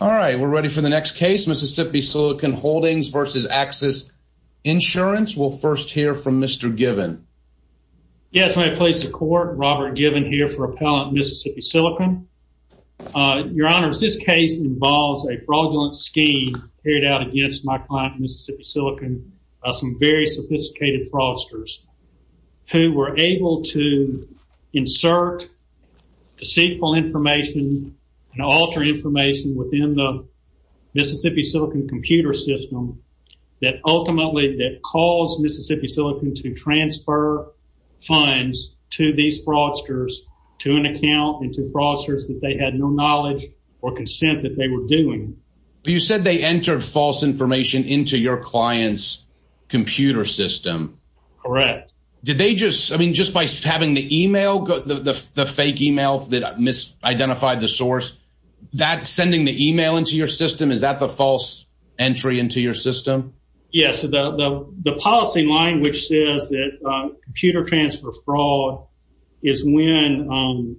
All right, we're ready for the next case, Mississippi Silicon Holdings versus Axis Insurance. We'll first hear from Mr. Given. Yes, my place of court, Robert Given here for Appellant Mississippi Silicon. Your Honor, this case involves a fraudulent scheme carried out against my client Mississippi Silicon by some very sophisticated fraudsters who were able to the Mississippi Silicon computer system that ultimately that caused Mississippi Silicon to transfer funds to these fraudsters to an account and to fraudsters that they had no knowledge or consent that they were doing. You said they entered false information into your client's computer system. Correct. Did they just I mean, just by having the email, the fake email that misidentified the source that sending the email into your system? Is that the false entry into your system? Yes. The policy line, which says that computer transfer fraud is when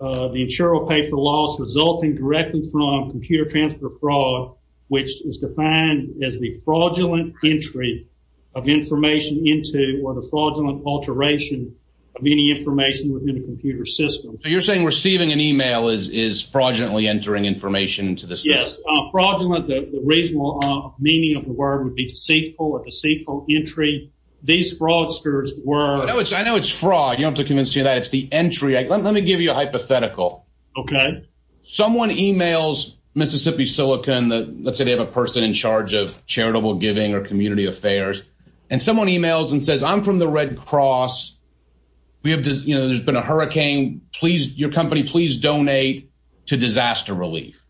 the insurer will pay for loss resulting directly from computer transfer fraud, which is defined as the fraudulent entry of information into or the fraudulent alteration of any information within a computer system. So you're saying receiving an email is fraudulently entering information into this? Yes. Fraudulent, the reasonable meaning of the word would be deceitful or deceitful entry. These fraudsters were. I know it's fraud. You don't have to convince me that it's the entry. Let me give you a hypothetical. Okay. Someone emails Mississippi Silicon. Let's say they have a person in charge of charitable giving or community affairs. And someone emails and says, I'm from the Red Cross. There's been a hurricane. Please, your company, please donate to disaster relief.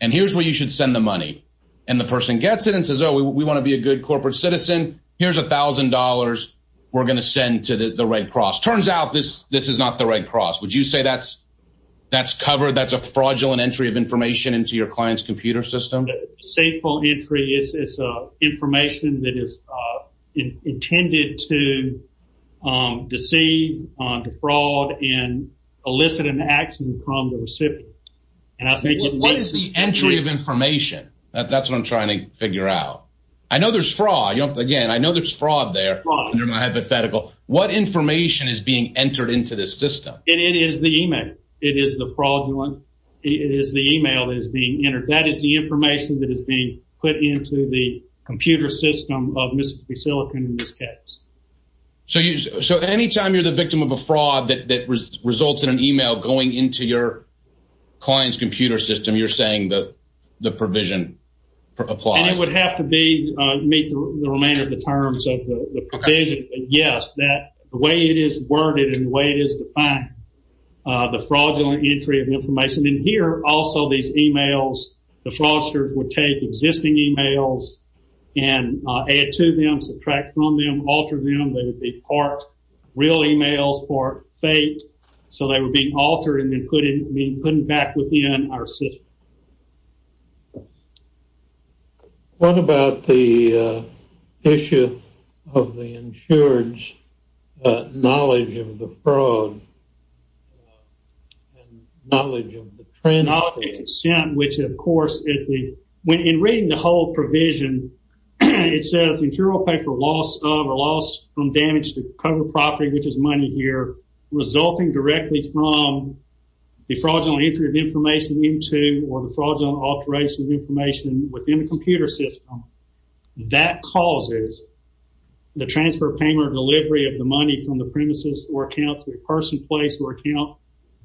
And here's where you should send the money. And the person gets it and says, oh, we want to be a good corporate citizen. Here's a thousand dollars. We're going to send to the Red Cross. Turns out this this is not the Red Cross. Would you say that's that's covered? That's a fraudulent entry of information into your client's computer system? Deceitful entry is information that is intended to deceive, defraud and elicit an action from the recipient. And I think what is the entry of information? That's what I'm trying to figure out. I know there's fraud. Again, I know there's fraud there. Under my hypothetical, what information is being entered into this system? It is the email. It is the fraudulent. It is the email is being entered. That is the information that is being put into the computer system of Mississippi Silicon in this case. So so any time you're the victim of a fraud that results in an email going into your client's computer system, you're saying that the provision applies? It would have to be meet the remainder of the terms of the provision. Yes, that way it is worded and the way it is defined. The fraudulent entry of information in here. Also, these emails, the fraudsters would take existing emails and add to them, subtract from them, alter them. They would be part real emails, part fake. So they would be altered and put in, be put back within our system. What about the issue of the insured's knowledge of the fraud? Knowledge of the trend. Which of course, in reading the whole provision, it says interior paper loss of or loss from damage to cover property, which is money here, resulting directly from the fraudulent entry of information into or the fraudulent alteration of information within the computer system that causes the transfer of payment or delivery of the money from the premises or account to a person, place or account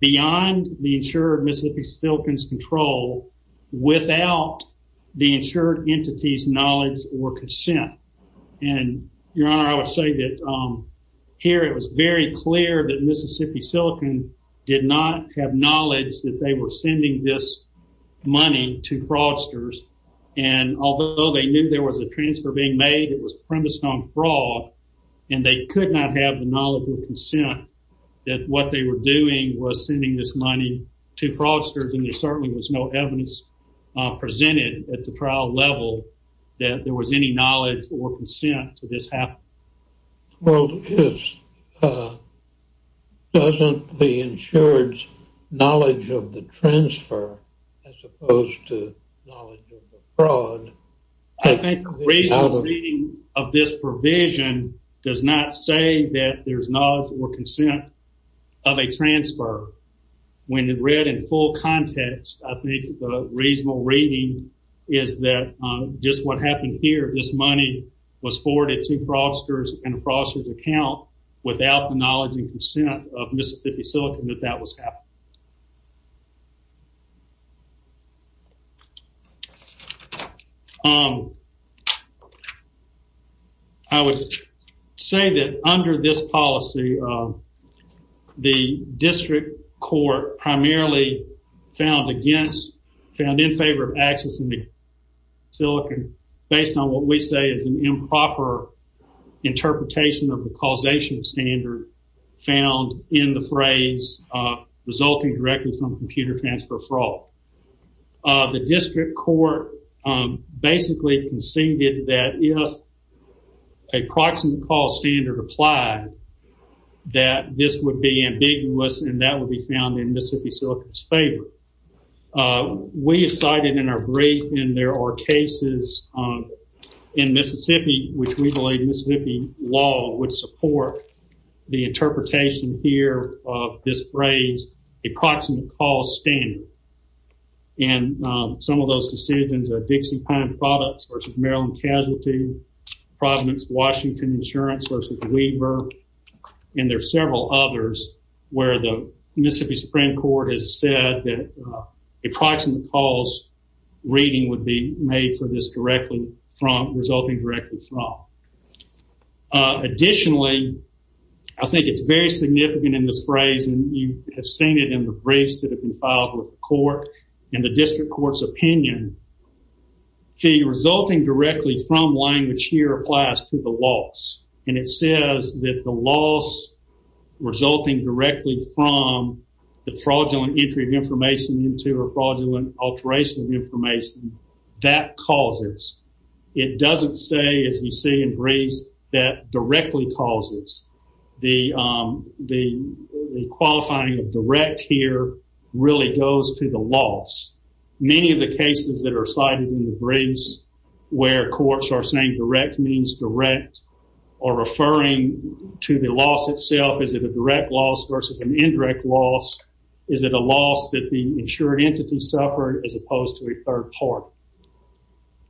beyond the insured Mississippi Silicon's control without the insured entity's knowledge or consent. And your honor, I would say that here it was very clear that Mississippi Silicon did not have knowledge that they were sending this money to fraudsters. And although they knew there was a transfer being made, it was premised on fraud and they could not have the knowledge or consent that what they were doing was sending this money to fraudsters and there certainly was no evidence presented at the trial level that there was any knowledge or consent to this happening. Well, doesn't the insured's knowledge of the transfer as opposed to knowledge of the fraud? I think a reasonable reading of this provision does not say that there's knowledge or consent of a transfer. When read in full context, I think the reasonable reading is that just what happened here, this money was forwarded to fraudsters and a fraudster's account without the knowledge and consent of Mississippi Silicon that that was happening. I would say that under this policy, the district court primarily found in favor of accessing the Silicon based on what we say is an improper interpretation of the causation standard found in the phrase resulting directly from computer transfer fraud. The district court basically conceded that if a proximate call standard applied that this would be ambiguous and that would be found in Mississippi Silicon's favor. We have cited in our brief and there are cases in Mississippi which we believe Mississippi law would support the interpretation here of this phrase approximate call standard and some of those decisions are Dixie Pine Products versus Maryland Casualty, Providence Washington Insurance versus Weaver and there are several others where Mississippi Supreme Court has said that approximate calls reading would be made for this resulting directly from. Additionally, I think it's very significant in this phrase and you have seen it in the briefs that have been filed with the court and the district court's opinion. The resulting directly from language here applies to the loss and it says that the loss resulting directly from the fraudulent entry of information into a fraudulent alteration of information that causes. It doesn't say as we see in briefs that directly causes. The qualifying of direct here really goes to the loss. Many of the cases that are cited in the briefs where courts are saying direct means direct or referring to the loss itself. Is it a direct loss versus an indirect loss? Is it a loss that the insured entity suffered as opposed to a third party?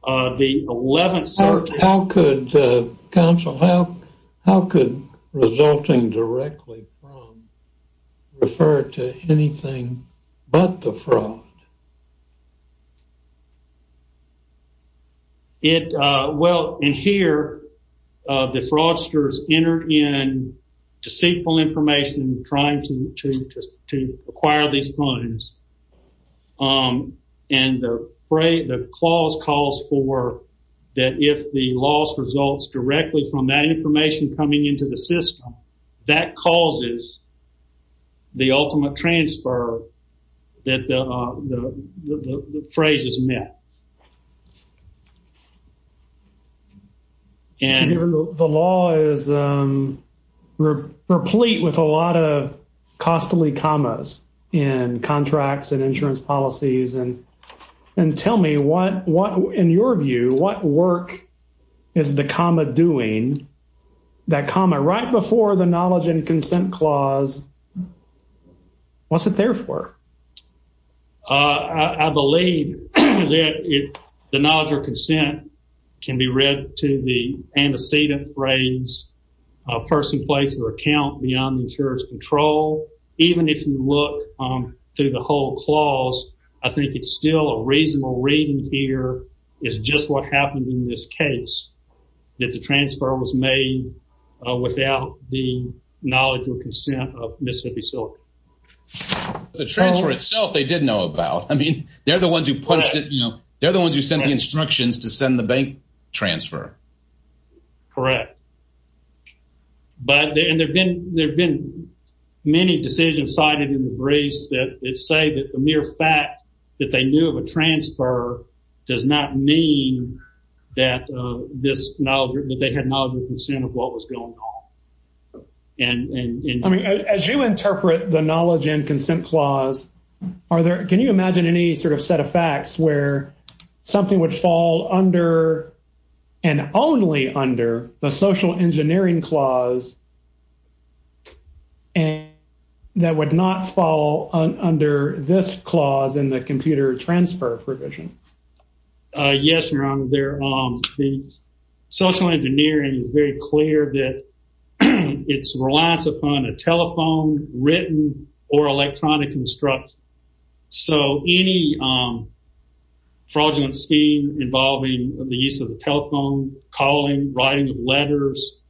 The 11th circuit. How could counsel, how could resulting directly from refer to anything but the fraud? Well, in here, the fraudsters entered in deceitful information trying to acquire these funds and the clause calls for that if the loss results directly from that information coming into the phrase is met. And the law is replete with a lot of costly commas in contracts and insurance policies and tell me what, in your view, what work is the comma doing? That comma right before the knowledge and I believe that the knowledge or consent can be read to the antecedent phrase person, place, or account beyond the insurance control. Even if you look through the whole clause, I think it's still a reasonable reading here is just what happened in this case that the transfer was made without the knowledge or consent of Mississippi. So the transfer itself, they didn't know about. I mean, they're the ones who punched it. They're the ones who sent the instructions to send the bank transfer. Correct. But there have been many decisions cited in the briefs that say that the mere fact that they knew of a transfer does not mean that this knowledge that they had knowledge and consent of what was going on. I mean, as you interpret the knowledge and consent clause, are there, can you imagine any sort of set of facts where something would fall under and only under the social engineering clause and that would not fall under this clause in the computer transfer provision? Yes, your honor. The social engineering is very clear that it's reliance upon a telephone, written, or electronic instruction. So any fraudulent scheme involving the use of the telephone, calling, writing of letters,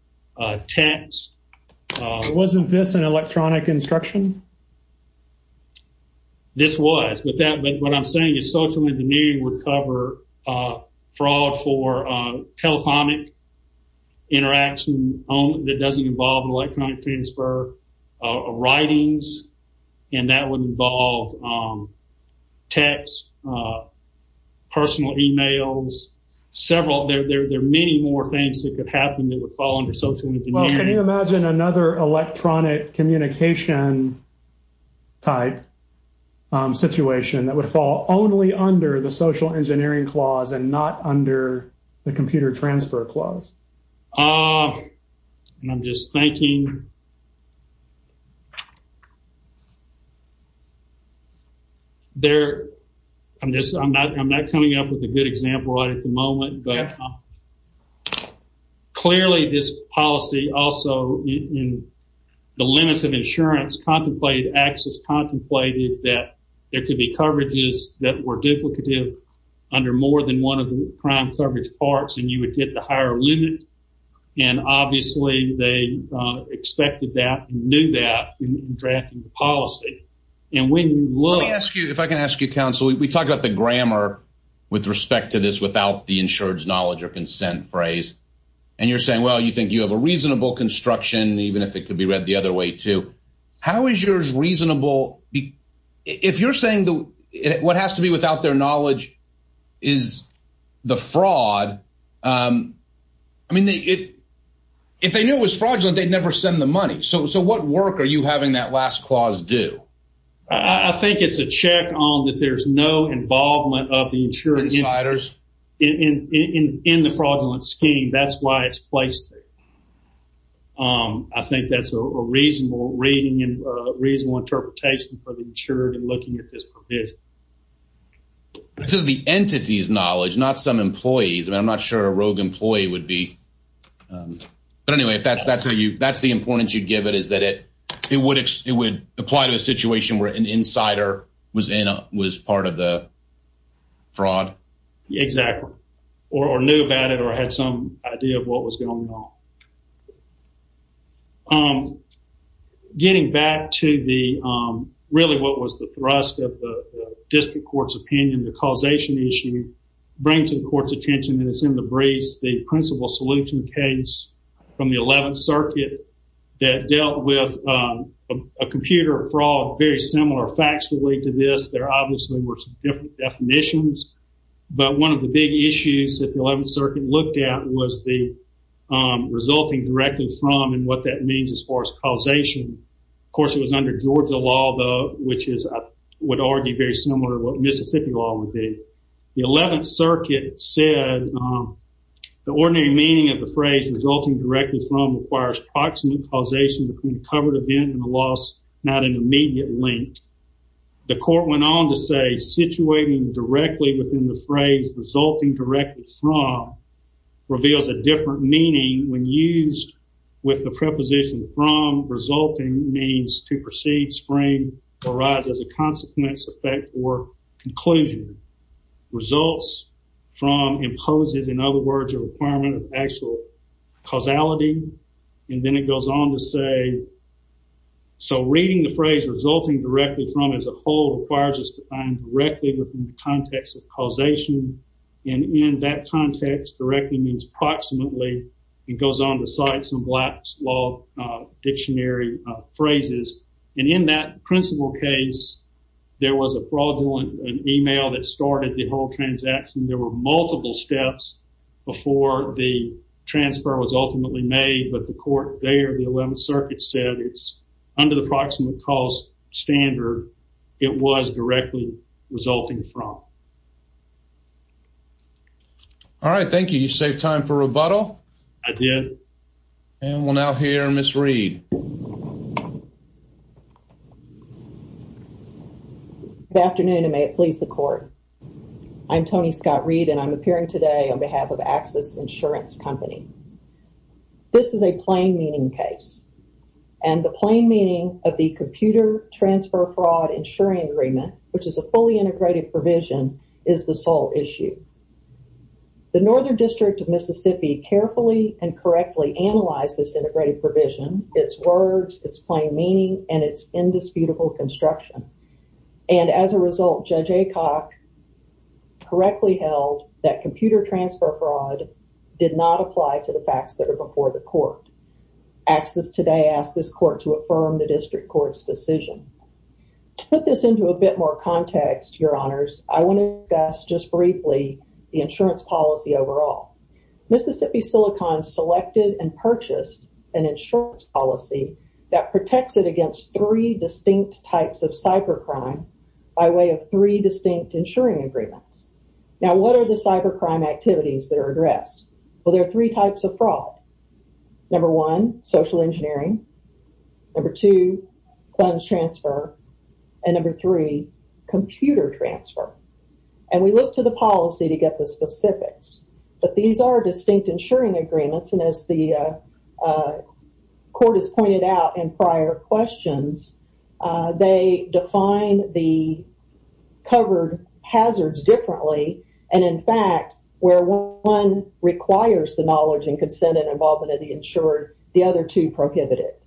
text. Wasn't this an electronic instruction? This was, but what I'm saying is social engineering would cover fraud for telephonic interaction that doesn't involve an electronic transfer, writings, and that would involve text, personal emails, several. There are many more things that could happen that would fall under social engineering. Well, can you imagine another electronic communication type situation that would fall only under the social engineering clause and not under the computer transfer clause? I'm just thinking. There, I'm just, I'm not coming up with a good example right at the moment, but clearly this policy also in the limits of insurance contemplated access contemplated that there could be coverages that were duplicative under more than one of the crime coverage parts and you would get the higher limit and obviously they expected that, knew that in drafting the policy and when you look. Let me ask you, if I can ask you counsel, we talked about the grammar with respect to this without the insurance knowledge or consent phrase and you're saying, well, you think you have a reasonable construction even if it could be read the other way too. How is yours reasonable? If you're saying what has to be without their knowledge is the fraud, I mean, if they knew it was fraudulent, they'd never send the money. So, what work are you no involvement of the insurance insiders in the fraudulent scheme? That's why it's placed. I think that's a reasonable reading and a reasonable interpretation for the insured and looking at this provision. This is the entity's knowledge, not some employees. I mean, I'm not sure a rogue employee would be, but anyway, if that's the importance you'd give is that it would apply to a situation where an insider was part of the fraud. Exactly, or knew about it or had some idea of what was going on. Getting back to the, really what was the thrust of the district court's opinion, the causation issue, bring to the court's attention that it's in the breeze, the principal solution case from the 11th circuit that dealt with a computer fraud very similar factually to this. There obviously were different definitions, but one of the big issues that the 11th circuit looked at was the resulting directly from and what that means as far as causation. Of course, it was under Georgia law, though, which is, I would argue, very similar to what Mississippi law would be. The 11th circuit said the ordinary meaning of the phrase resulting directly from requires proximate causation between covered event and the loss, not an immediate link. The court went on to say situating directly within the phrase resulting directly from reveals a different meaning when used with the preposition from resulting means to proceed, spring, or rise as consequence, effect, or conclusion. Results from imposes, in other words, a requirement of actual causality, and then it goes on to say, so reading the phrase resulting directly from as a whole requires us to find directly within the context of causation, and in that context, directly means proximately. It goes on to cite some black law dictionary phrases, and in that principal case, there was a fraudulent email that started the whole transaction. There were multiple steps before the transfer was ultimately made, but the court there, the 11th circuit said it's under the proximate cause standard. It was directly resulting from. All right, thank you. You saved time for rebuttal. I did. And we'll now hear Ms. Reed. Good afternoon, and may it please the court. I'm Tony Scott Reed, and I'm appearing today on behalf of Axis Insurance Company. This is a plain meaning case, and the plain meaning of the computer transfer fraud insuring agreement, which is a fully integrated provision, is the sole issue. The Northern District of Mississippi carefully and correctly analyzed this integrated provision, its words, its plain meaning, and its indisputable construction, and as a result, Judge Aycock correctly held that computer transfer fraud did not apply to the facts that are before the court. Axis today asked this court to affirm the district court's decision. To put this into a bit more context, your honors, I want to discuss just briefly the insurance policy overall. Mississippi Silicon selected and purchased an insurance policy that protects it against three distinct types of cybercrime by way of three distinct insuring agreements. Now, what are the cybercrime activities that are addressed? Well, there are three types of social engineering, funds transfer, and computer transfer, and we look to the policy to get the specifics, but these are distinct insuring agreements, and as the court has pointed out in prior questions, they define the covered hazards differently, and in fact, where one requires the knowledge and consent and involvement of the insured, the other two prohibit it.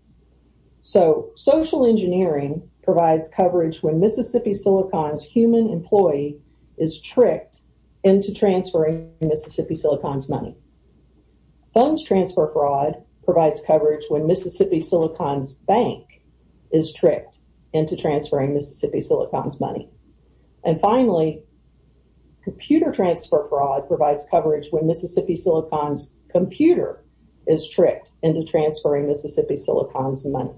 So, social engineering provides coverage when Mississippi Silicon's human employee is tricked into transferring Mississippi Silicon's money. Funds transfer fraud provides coverage when Mississippi Silicon's bank is tricked into transferring Mississippi Silicon's money, and finally, computer transfer fraud provides coverage when Mississippi Silicon's computer is tricked into transferring Mississippi Silicon's money,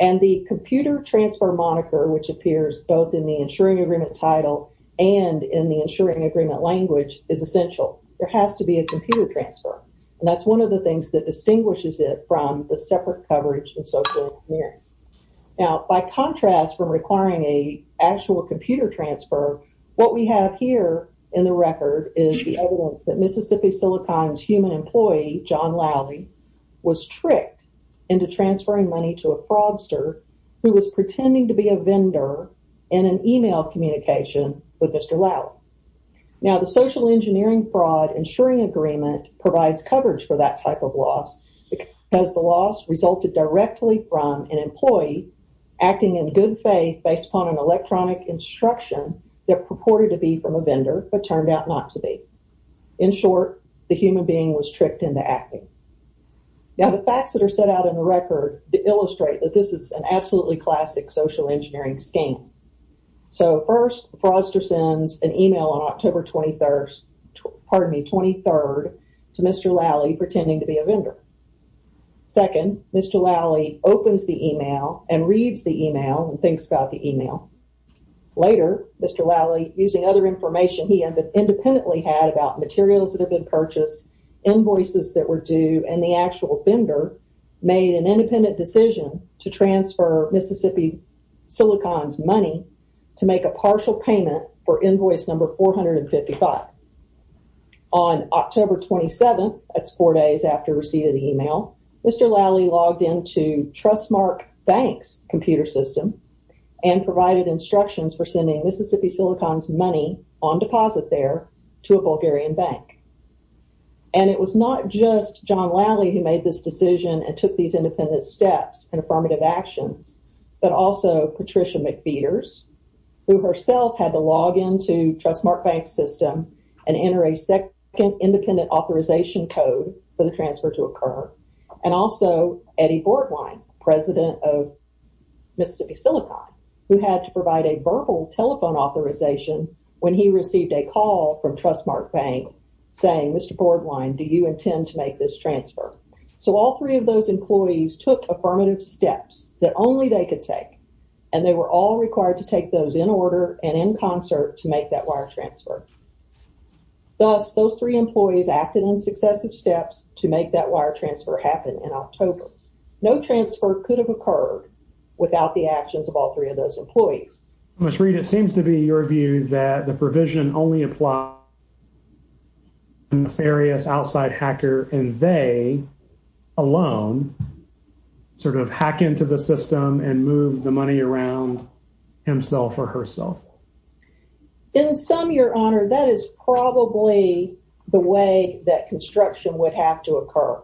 and the computer transfer moniker which appears both in the insuring agreement title and in the insuring agreement language is essential. There has to be a computer transfer, and that's one of the things that distinguishes it from the transfer. What we have here in the record is the evidence that Mississippi Silicon's human employee, John Lally, was tricked into transferring money to a fraudster who was pretending to be a vendor in an email communication with Mr. Lally. Now, the social engineering fraud insuring agreement provides coverage for that type of loss because the loss resulted directly from an employee acting in good faith based upon an electronic instruction that purported to be from a vendor, but turned out not to be. In short, the human being was tricked into acting. Now, the facts that are set out in the record illustrate that this is an absolutely classic social engineering scheme. So, first, the fraudster sends an email on October 23rd to Mr. Lally pretending to be a and thinks about the email. Later, Mr. Lally, using other information he independently had about materials that have been purchased, invoices that were due, and the actual vendor made an independent decision to transfer Mississippi Silicon's money to make a partial payment for invoice number 455. On October 27th, that's four days after receiving the email, Mr. Lally logged into Trustmark Bank's computer system and provided instructions for sending Mississippi Silicon's money on deposit there to a Bulgarian bank. And it was not just John Lally who made this decision and took these independent steps and affirmative actions, but also Patricia McPheeters, who herself had to log into Trustmark Bank's system and enter a second independent authorization code for the transfer to occur, and also Eddie Bordwine, president of Mississippi Silicon, who had to provide a verbal telephone authorization when he received a call from Trustmark Bank saying, Mr. Bordwine, do you intend to make this transfer? So, all three of those employees took affirmative steps that only they could take, and they were all required to take those in order and in concert to make that wire transfer. Thus, those three employees acted in successive steps to make that wire transfer happen in October. No transfer could have occurred without the actions of all three of those employees. Mr. Reed, it seems to be your view that the provision only applies to a nefarious outside hacker, and they alone sort of hack into the system and move the money around himself or herself. In sum, your honor, that is probably the way that construction would have to occur.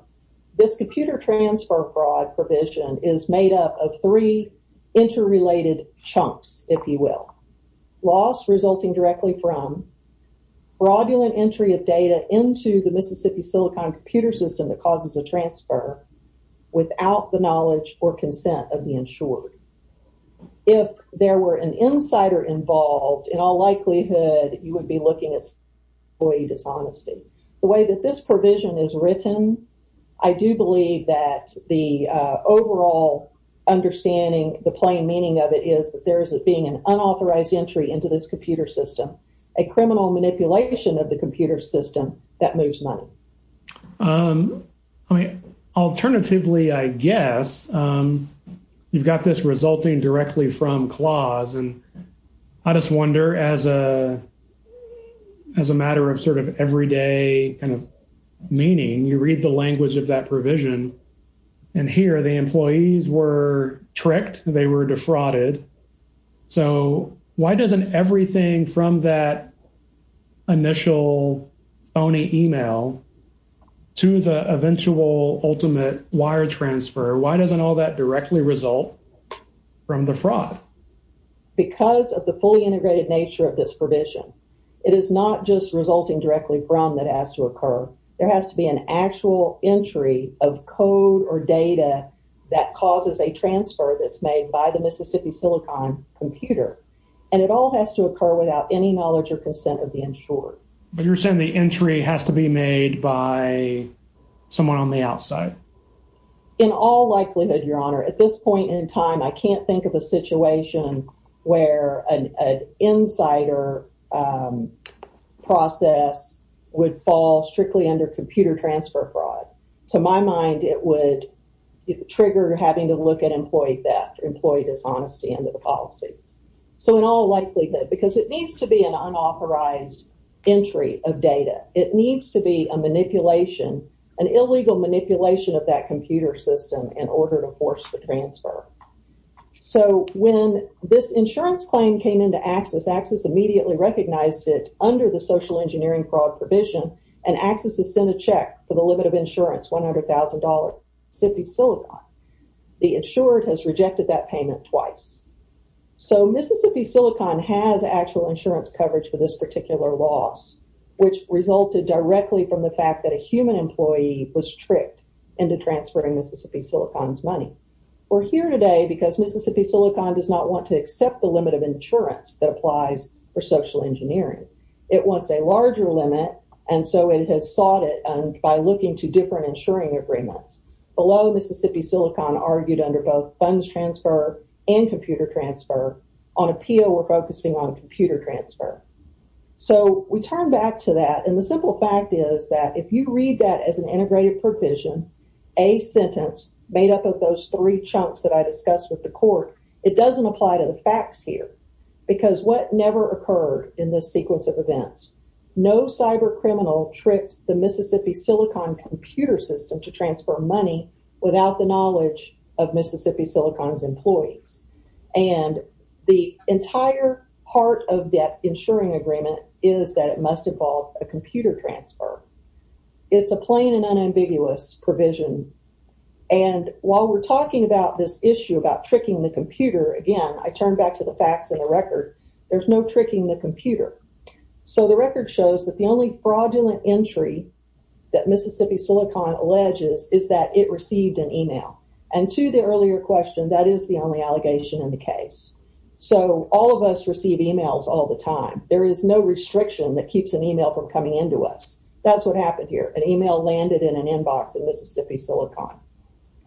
This computer transfer fraud provision is made up of three interrelated chunks, if you will. Loss resulting directly from fraudulent entry of data into the Mississippi Silicon computer system that causes a transfer without the knowledge or consent of the insured. If there were an insider involved, in all likelihood, you would be looking at employee dishonesty. The way that this provision is written, I do believe that the overall understanding, the plain meaning of it is that there is being an unauthorized entry into this computer system, a criminal manipulation of the I mean, alternatively, I guess, you've got this resulting directly from clause. And I just wonder as a matter of sort of everyday kind of meaning, you read the language of that provision, and here the employees were tricked, they were defrauded. So why doesn't everything from that initial phony email to the eventual ultimate wire transfer, why doesn't all that directly result from the fraud? Because of the fully integrated nature of this provision, it is not just resulting directly from that has to occur, there has to be an actual entry of code or data that causes a transfer that's made by the Mississippi Silicon computer. And it all has to But you're saying the entry has to be made by someone on the outside. In all likelihood, Your Honor, at this point in time, I can't think of a situation where an insider process would fall strictly under computer transfer fraud. To my mind, it would trigger having to look at employee theft, employee dishonesty into the policy. So in all likelihood, because it needs to be an unauthorized entry of data, it needs to be a manipulation, an illegal manipulation of that computer system in order to force the transfer. So when this insurance claim came into access, access immediately recognized it under the social engineering fraud provision, and access is sent a check for the limit of insurance $100,000 Mississippi Silicon, the insured has rejected that payment twice. So Mississippi Silicon has actual insurance coverage for this particular loss, which resulted directly from the fact that a human employee was tricked into transferring Mississippi Silicon's money. We're here today because Mississippi Silicon does not want to accept the limit of insurance that applies for social engineering. It wants a larger limit. And so it has sought it and by looking to different agreements, below Mississippi Silicon argued under both funds transfer and computer transfer on appeal, we're focusing on computer transfer. So we turn back to that. And the simple fact is that if you read that as an integrated provision, a sentence made up of those three chunks that I discussed with the court, it doesn't apply to the facts here. Because what never occurred in this to transfer money without the knowledge of Mississippi Silicon's employees. And the entire part of that insuring agreement is that it must involve a computer transfer. It's a plain and unambiguous provision. And while we're talking about this issue about tricking the computer, again, I turn back to the facts of the record. There's no tricking the computer. So the record shows that the only fraudulent entry that Mississippi Silicon alleges is that it received an email. And to the earlier question, that is the only allegation in the case. So all of us receive emails all the time. There is no restriction that keeps an email from coming into us. That's what happened here. An email landed in an inbox at Mississippi Silicon.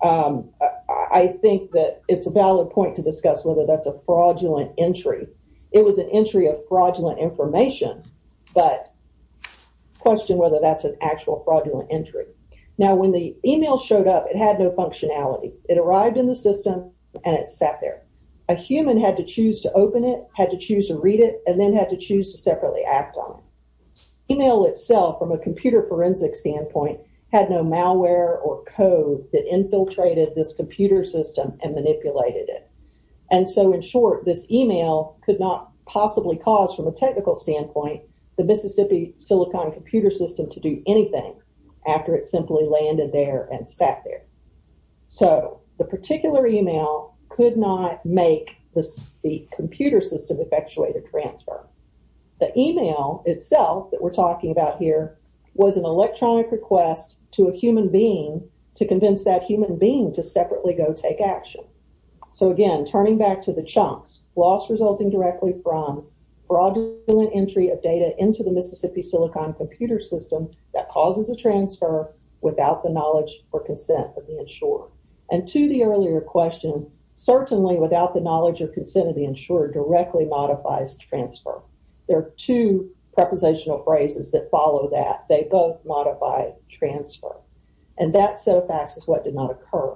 I think that it's a valid point to discuss whether that's a fraudulent entry. It was an entry of fraudulent information, but question whether that's an actual fraudulent entry. Now, when the email showed up, it had no functionality. It arrived in the system, and it sat there. A human had to choose to open it, had to choose to read it, and then had to choose to separately act on it. Email itself, from a computer forensic standpoint, had no malware or code that infiltrated this computer system and manipulated it. And so, in short, this email could not possibly cause, from a technical standpoint, the Mississippi Silicon computer system to do anything after it simply landed there and sat there. So the particular email could not make the computer system effectuate a transfer. The email itself that we're talking about here was an electronic request to a human being to convince that human being to separately go take action. So again, turning back to the chunks, loss resulting directly from fraudulent entry of data into the Mississippi Silicon computer system that causes a transfer without the knowledge or consent of the insurer. And to the earlier question, certainly without the knowledge or consent of the insurer directly modifies transfer. There are two prepositional phrases that follow that. They both modify transfer. And that set of facts is what did not occur.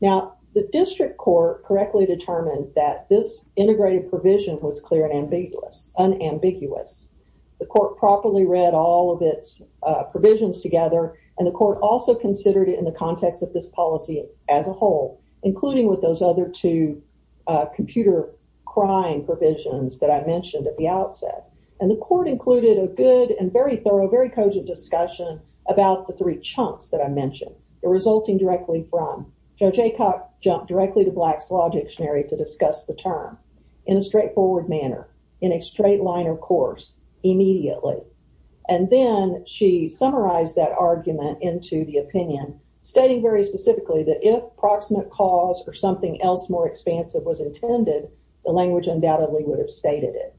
Now, the district court correctly determined that this integrated provision was clear and unambiguous. The court properly read all of its provisions together, and the court also considered it in the context of this policy as a whole, including with those other two crime provisions that I mentioned at the outset. And the court included a good and very thorough, very cogent discussion about the three chunks that I mentioned, resulting directly from. Judge Aycock jumped directly to Black's Law Dictionary to discuss the term in a straightforward manner, in a straight-liner course, immediately. And then she summarized that argument into the opinion, stating very specifically that if proximate cause or something else more expansive was intended, the language undoubtedly would have stated it.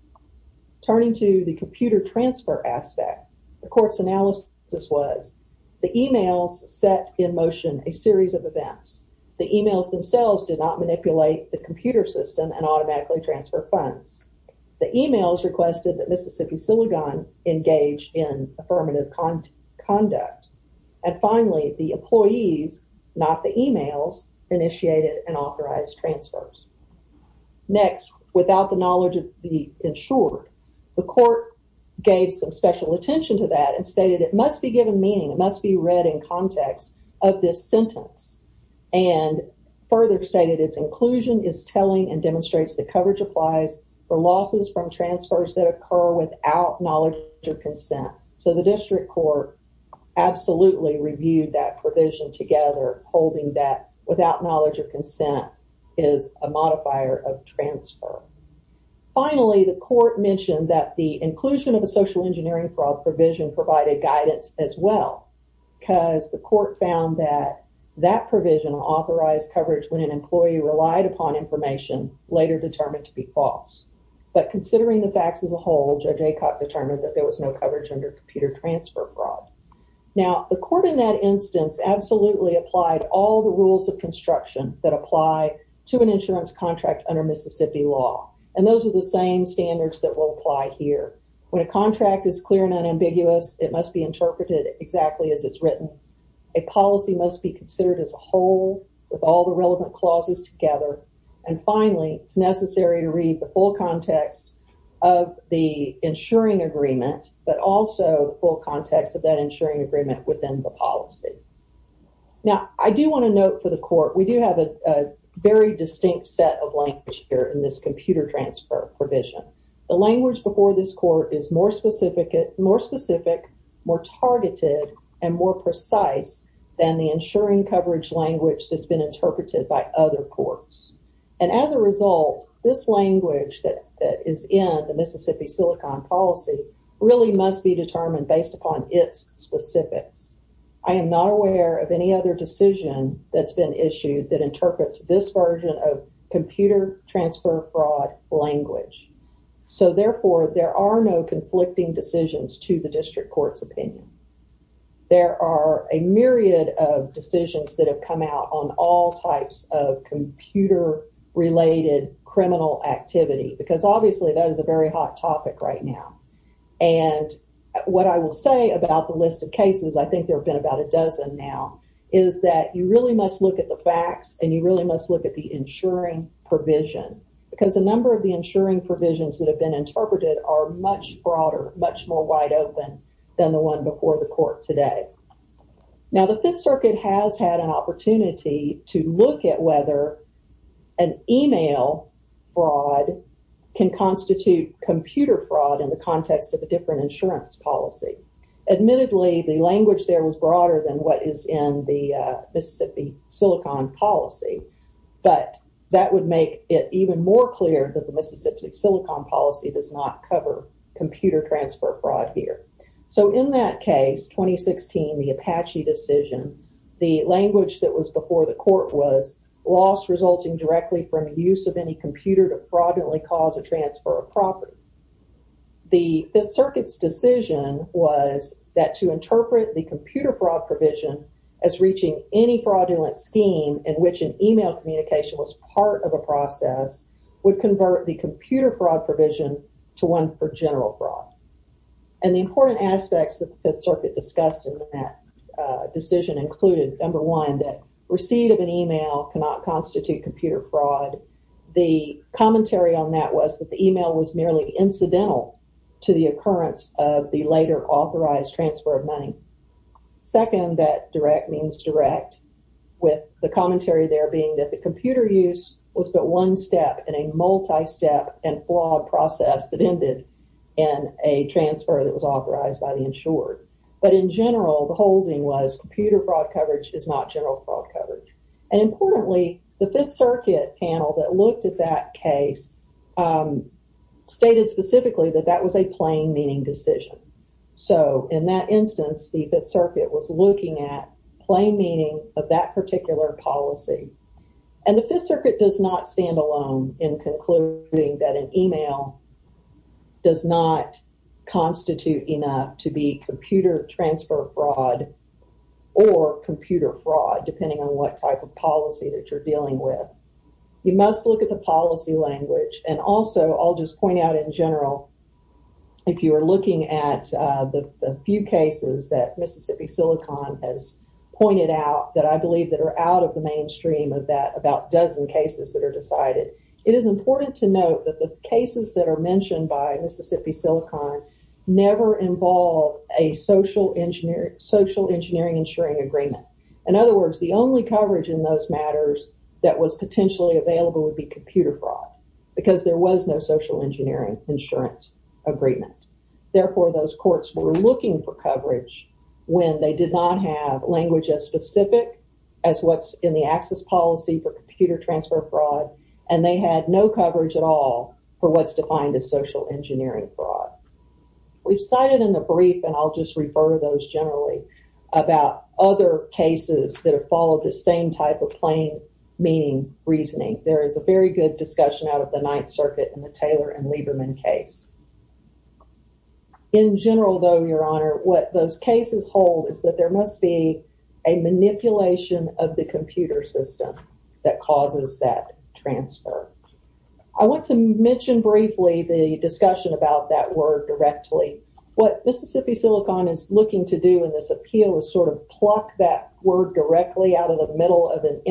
Turning to the computer transfer aspect, the court's analysis was the emails set in motion a series of events. The emails themselves did not manipulate the computer system and automatically transfer funds. The emails requested that Mississippi-Silicon engage in affirmative conduct. And finally, the employees, not the emails, initiated and authorized transfers. Next, without the knowledge of the insured, the court gave some special attention to that and stated it must be given meaning, it must be read in context of this sentence, and further stated its inclusion is telling and demonstrates that coverage applies for losses from transfers that occur without knowledge or consent. So the district court absolutely reviewed that provision together, holding that without knowledge or consent is a modifier of transfer. Finally, the court mentioned that the inclusion of the social engineering fraud provision provided guidance as well, because the court found that that provision authorized coverage when an employee relied upon information, later determined to be false. But considering the facts as a whole, Judge Aycock determined that there was no coverage under computer transfer fraud. Now, the court in that instance absolutely applied all the rules of construction that apply to an insurance contract under Mississippi law. And those are the same standards that will apply here. When a contract is clear and unambiguous, it must be interpreted exactly as it's written. A policy must be considered as a whole with all the relevant clauses together. And finally, it's necessary to read the full context of the insuring agreement, but also full context of that insuring agreement within the policy. Now, I do want to note for the court, we do have a very distinct set of language here in this computer transfer provision. The language before this court is more specific, more targeted, and more precise than the insuring coverage language that's been interpreted by other courts. And as a result, this language that is in the Mississippi Silicon policy really must be determined based upon its specifics. I am not aware of any other decision that's been issued that interprets this version of computer transfer fraud language. So therefore, there are no conflicting decisions to the district court's opinion. There are a myriad of decisions that have come out on all types of computer-related criminal activity, because obviously that is a very hot topic right now. And what I will say about the list of cases, I think there have been about a dozen now, is that you really must look at the facts and you really must look at the insuring provision. Because a number of the insuring provisions that have been interpreted are much broader, much more wide open than the one before the court today. Now, the Fifth Circuit has had an opportunity to look at whether an email fraud can constitute computer fraud in the context of a different insurance policy. Admittedly, the language there was broader than what is in the Mississippi Silicon policy, but that would make it more clear that the Mississippi Silicon policy does not cover computer transfer fraud here. So in that case, 2016, the Apache decision, the language that was before the court was loss resulting directly from use of any computer to fraudulently cause a transfer of property. The Fifth Circuit's decision was that to interpret the computer fraud provision as reaching any fraudulent scheme in which an email communication was part of a process would convert the computer fraud provision to one for general fraud. And the important aspects that the Fifth Circuit discussed in that decision included, number one, that receipt of an email cannot constitute computer fraud. The commentary on that was that the email was merely incidental to the occurrence of the later authorized transfer of direct means direct, with the commentary there being that the computer use was but one step in a multi-step and flawed process that ended in a transfer that was authorized by the insured. But in general, the holding was computer fraud coverage is not general fraud coverage. And importantly, the Fifth Circuit panel that looked at that case stated specifically that that was a plain meaning decision. So in that instance, the Fifth Circuit was looking at plain meaning of that particular policy. And the Fifth Circuit does not stand alone in concluding that an email does not constitute enough to be computer transfer fraud or computer fraud, depending on what type of policy that you're dealing with. You must look at the policy language and also, I'll just point out in general, if you are looking at the few cases that Mississippi Silicon has pointed out that I believe that are out of the mainstream of that about dozen cases that are decided, it is important to note that the cases that are mentioned by Mississippi Silicon never involve a social engineering social engineering insuring agreement. In other words, the only coverage in those matters that was potentially available would be computer fraud, because there was no social engineering insurance agreement. Therefore, those courts were looking for coverage when they did not have language as specific as what's in the access policy for computer transfer fraud, and they had no coverage at all for what's defined as social engineering fraud. We've cited in the brief, and I'll just refer to those generally, about other cases that of the Ninth Circuit in the Taylor and Lieberman case. In general, though, your honor, what those cases hold is that there must be a manipulation of the computer system that causes that transfer. I want to mention briefly the discussion about that word directly. What Mississippi Silicon is looking to do in this appeal is sort of pluck that word directly out of the middle of an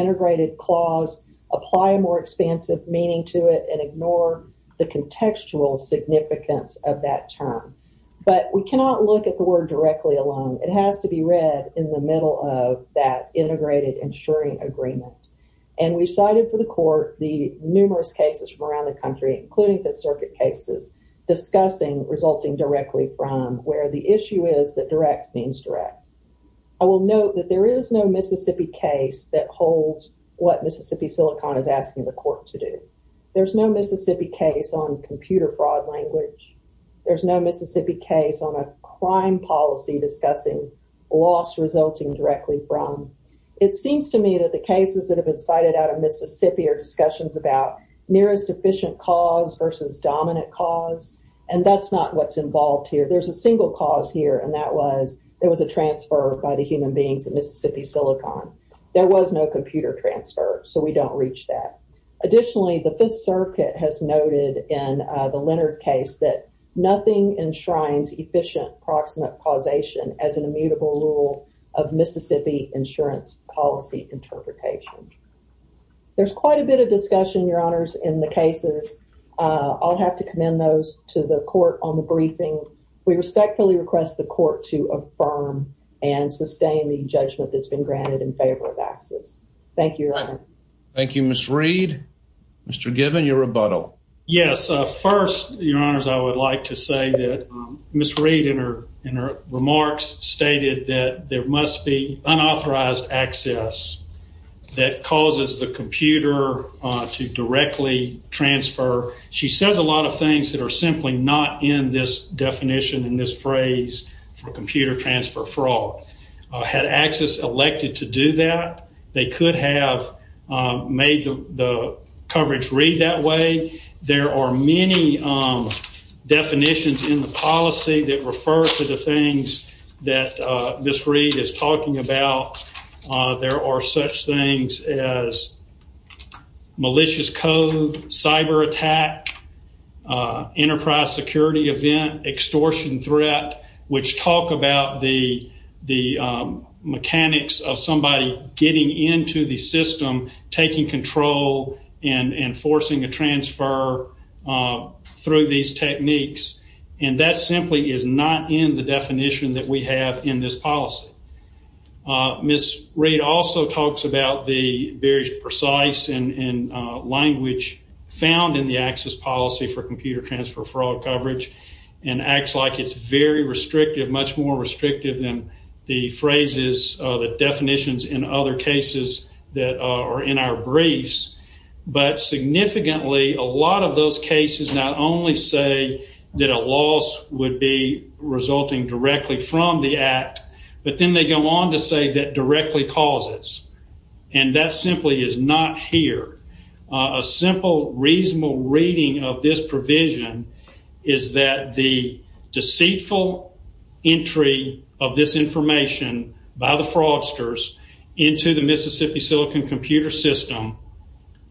ignore the contextual significance of that term, but we cannot look at the word directly alone. It has to be read in the middle of that integrated insuring agreement, and we cited for the court the numerous cases from around the country, including Fifth Circuit cases, discussing resulting directly from where the issue is that direct means direct. I will note that there is no Mississippi case that holds what Mississippi Silicon is asking the court to do. There's no Mississippi case on computer fraud language. There's no Mississippi case on a crime policy discussing loss resulting directly from. It seems to me that the cases that have been cited out of Mississippi are discussions about nearest efficient cause versus dominant cause, and that's not what's involved here. There's a single cause here, and that was there was a transfer by the human beings in Mississippi Silicon. There was no computer transfer, so we don't reach that. Additionally, the Fifth Circuit has noted in the Leonard case that nothing enshrines efficient proximate causation as an immutable rule of Mississippi insurance policy interpretation. There's quite a bit of discussion, your honors, in the cases. I'll have to commend those to the court on the briefing. We respectfully request the court to affirm and sustain the judgment that's been granted in favor of access. Thank you, your honor. Thank you, Miss Reed. Mr. Given, your rebuttal. Yes, first, your honors, I would like to say that Miss Reed in her remarks stated that there must be unauthorized access that causes the computer to directly transfer. She says a lot of things that are simply not in this definition in this phrase for computer transfer fraud. Had access elected to do that, they could have made the coverage read that way. There are many definitions in the policy that refer to the things that Miss Reed is talking about. There are such things as enterprise security event, extortion threat, which talk about the mechanics of somebody getting into the system, taking control, and forcing a transfer through these techniques. That simply is not in the definition that we have in this policy. Miss Reed also talks about the very precise language found in the access policy for computer transfer fraud coverage and acts like it's very restrictive, much more restrictive than the phrases, the definitions, in other cases that are in our briefs. But significantly, a lot of those cases not only say that a loss would be resulting directly from the act, but then they go on to say that directly causes. And that simply is not here. A simple, reasonable reading of this provision is that the deceitful entry of this information by the fraudsters into the Mississippi Silicon computer system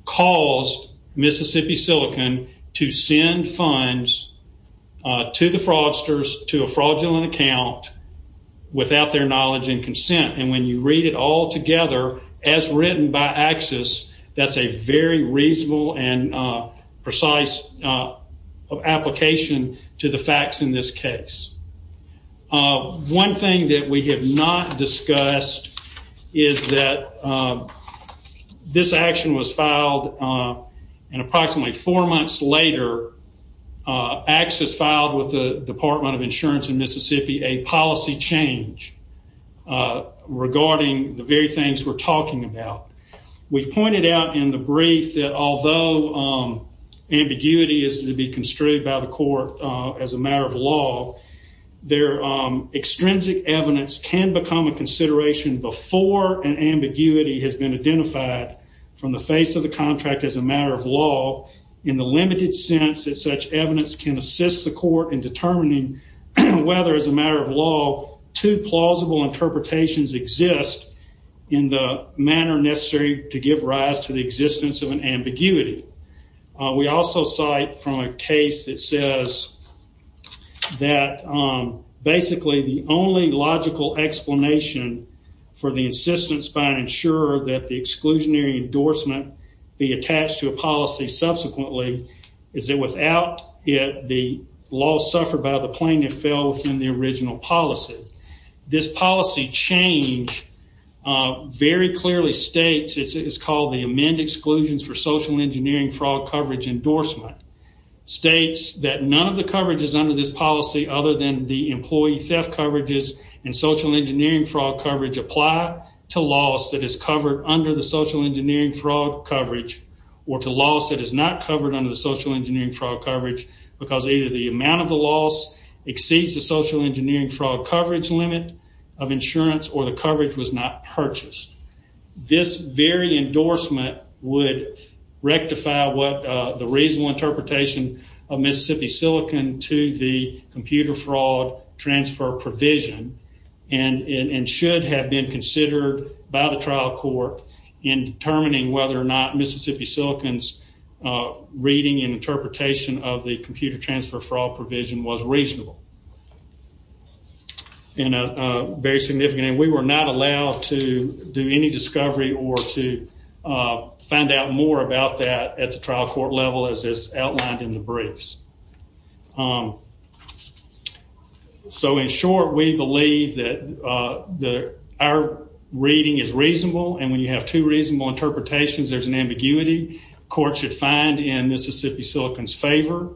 caused Mississippi Silicon to send funds to the fraudsters to a fraudulent account without their knowledge and consent. And when you read it all together as written by access, that's a very reasonable and precise application to the facts in this case. One thing that we have not discussed is that this action was filed and approximately four later, access filed with the Department of Insurance in Mississippi a policy change regarding the very things we're talking about. We've pointed out in the brief that although ambiguity is to be construed by the court as a matter of law, their extrinsic evidence can become a consideration before an ambiguity has been identified from the face of the contract as a sense that such evidence can assist the court in determining whether as a matter of law, two plausible interpretations exist in the manner necessary to give rise to the existence of an ambiguity. We also cite from a case that says that basically the only logical explanation for the insistence by an insurer that the exclusionary endorsement be attached to a policy subsequently is that without it, the law suffered by the plaintiff fell within the original policy. This policy change very clearly states, it's called the amend exclusions for social engineering fraud coverage endorsement, states that none of the coverages under this policy other than the employee theft coverages and social engineering fraud coverage apply to laws that is covered under the social engineering fraud coverage or to laws that is not covered under the social engineering fraud coverage because either the amount of the loss exceeds the social engineering fraud coverage limit of insurance or the coverage was not purchased. This very endorsement would rectify what the reasonable interpretation of Mississippi Silicon to the computer fraud transfer provision and should have been considered by the trial court in determining whether or not Mississippi Silicon's reading and interpretation of the computer transfer fraud provision was reasonable and very significant. We were not allowed to do any discovery or to find out more about that at the trial court level as is outlined in the briefs. So in short, we believe that our reading is reasonable and when you have two reasonable interpretations, there's an ambiguity court should find in Mississippi Silicon's favor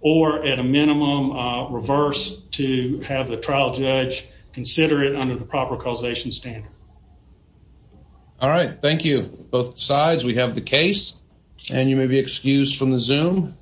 or at a minimum reverse to have the trial judge consider it under the proper causation standard. All right, thank you. Both sides, we have the case and you may be excused from the Zoom.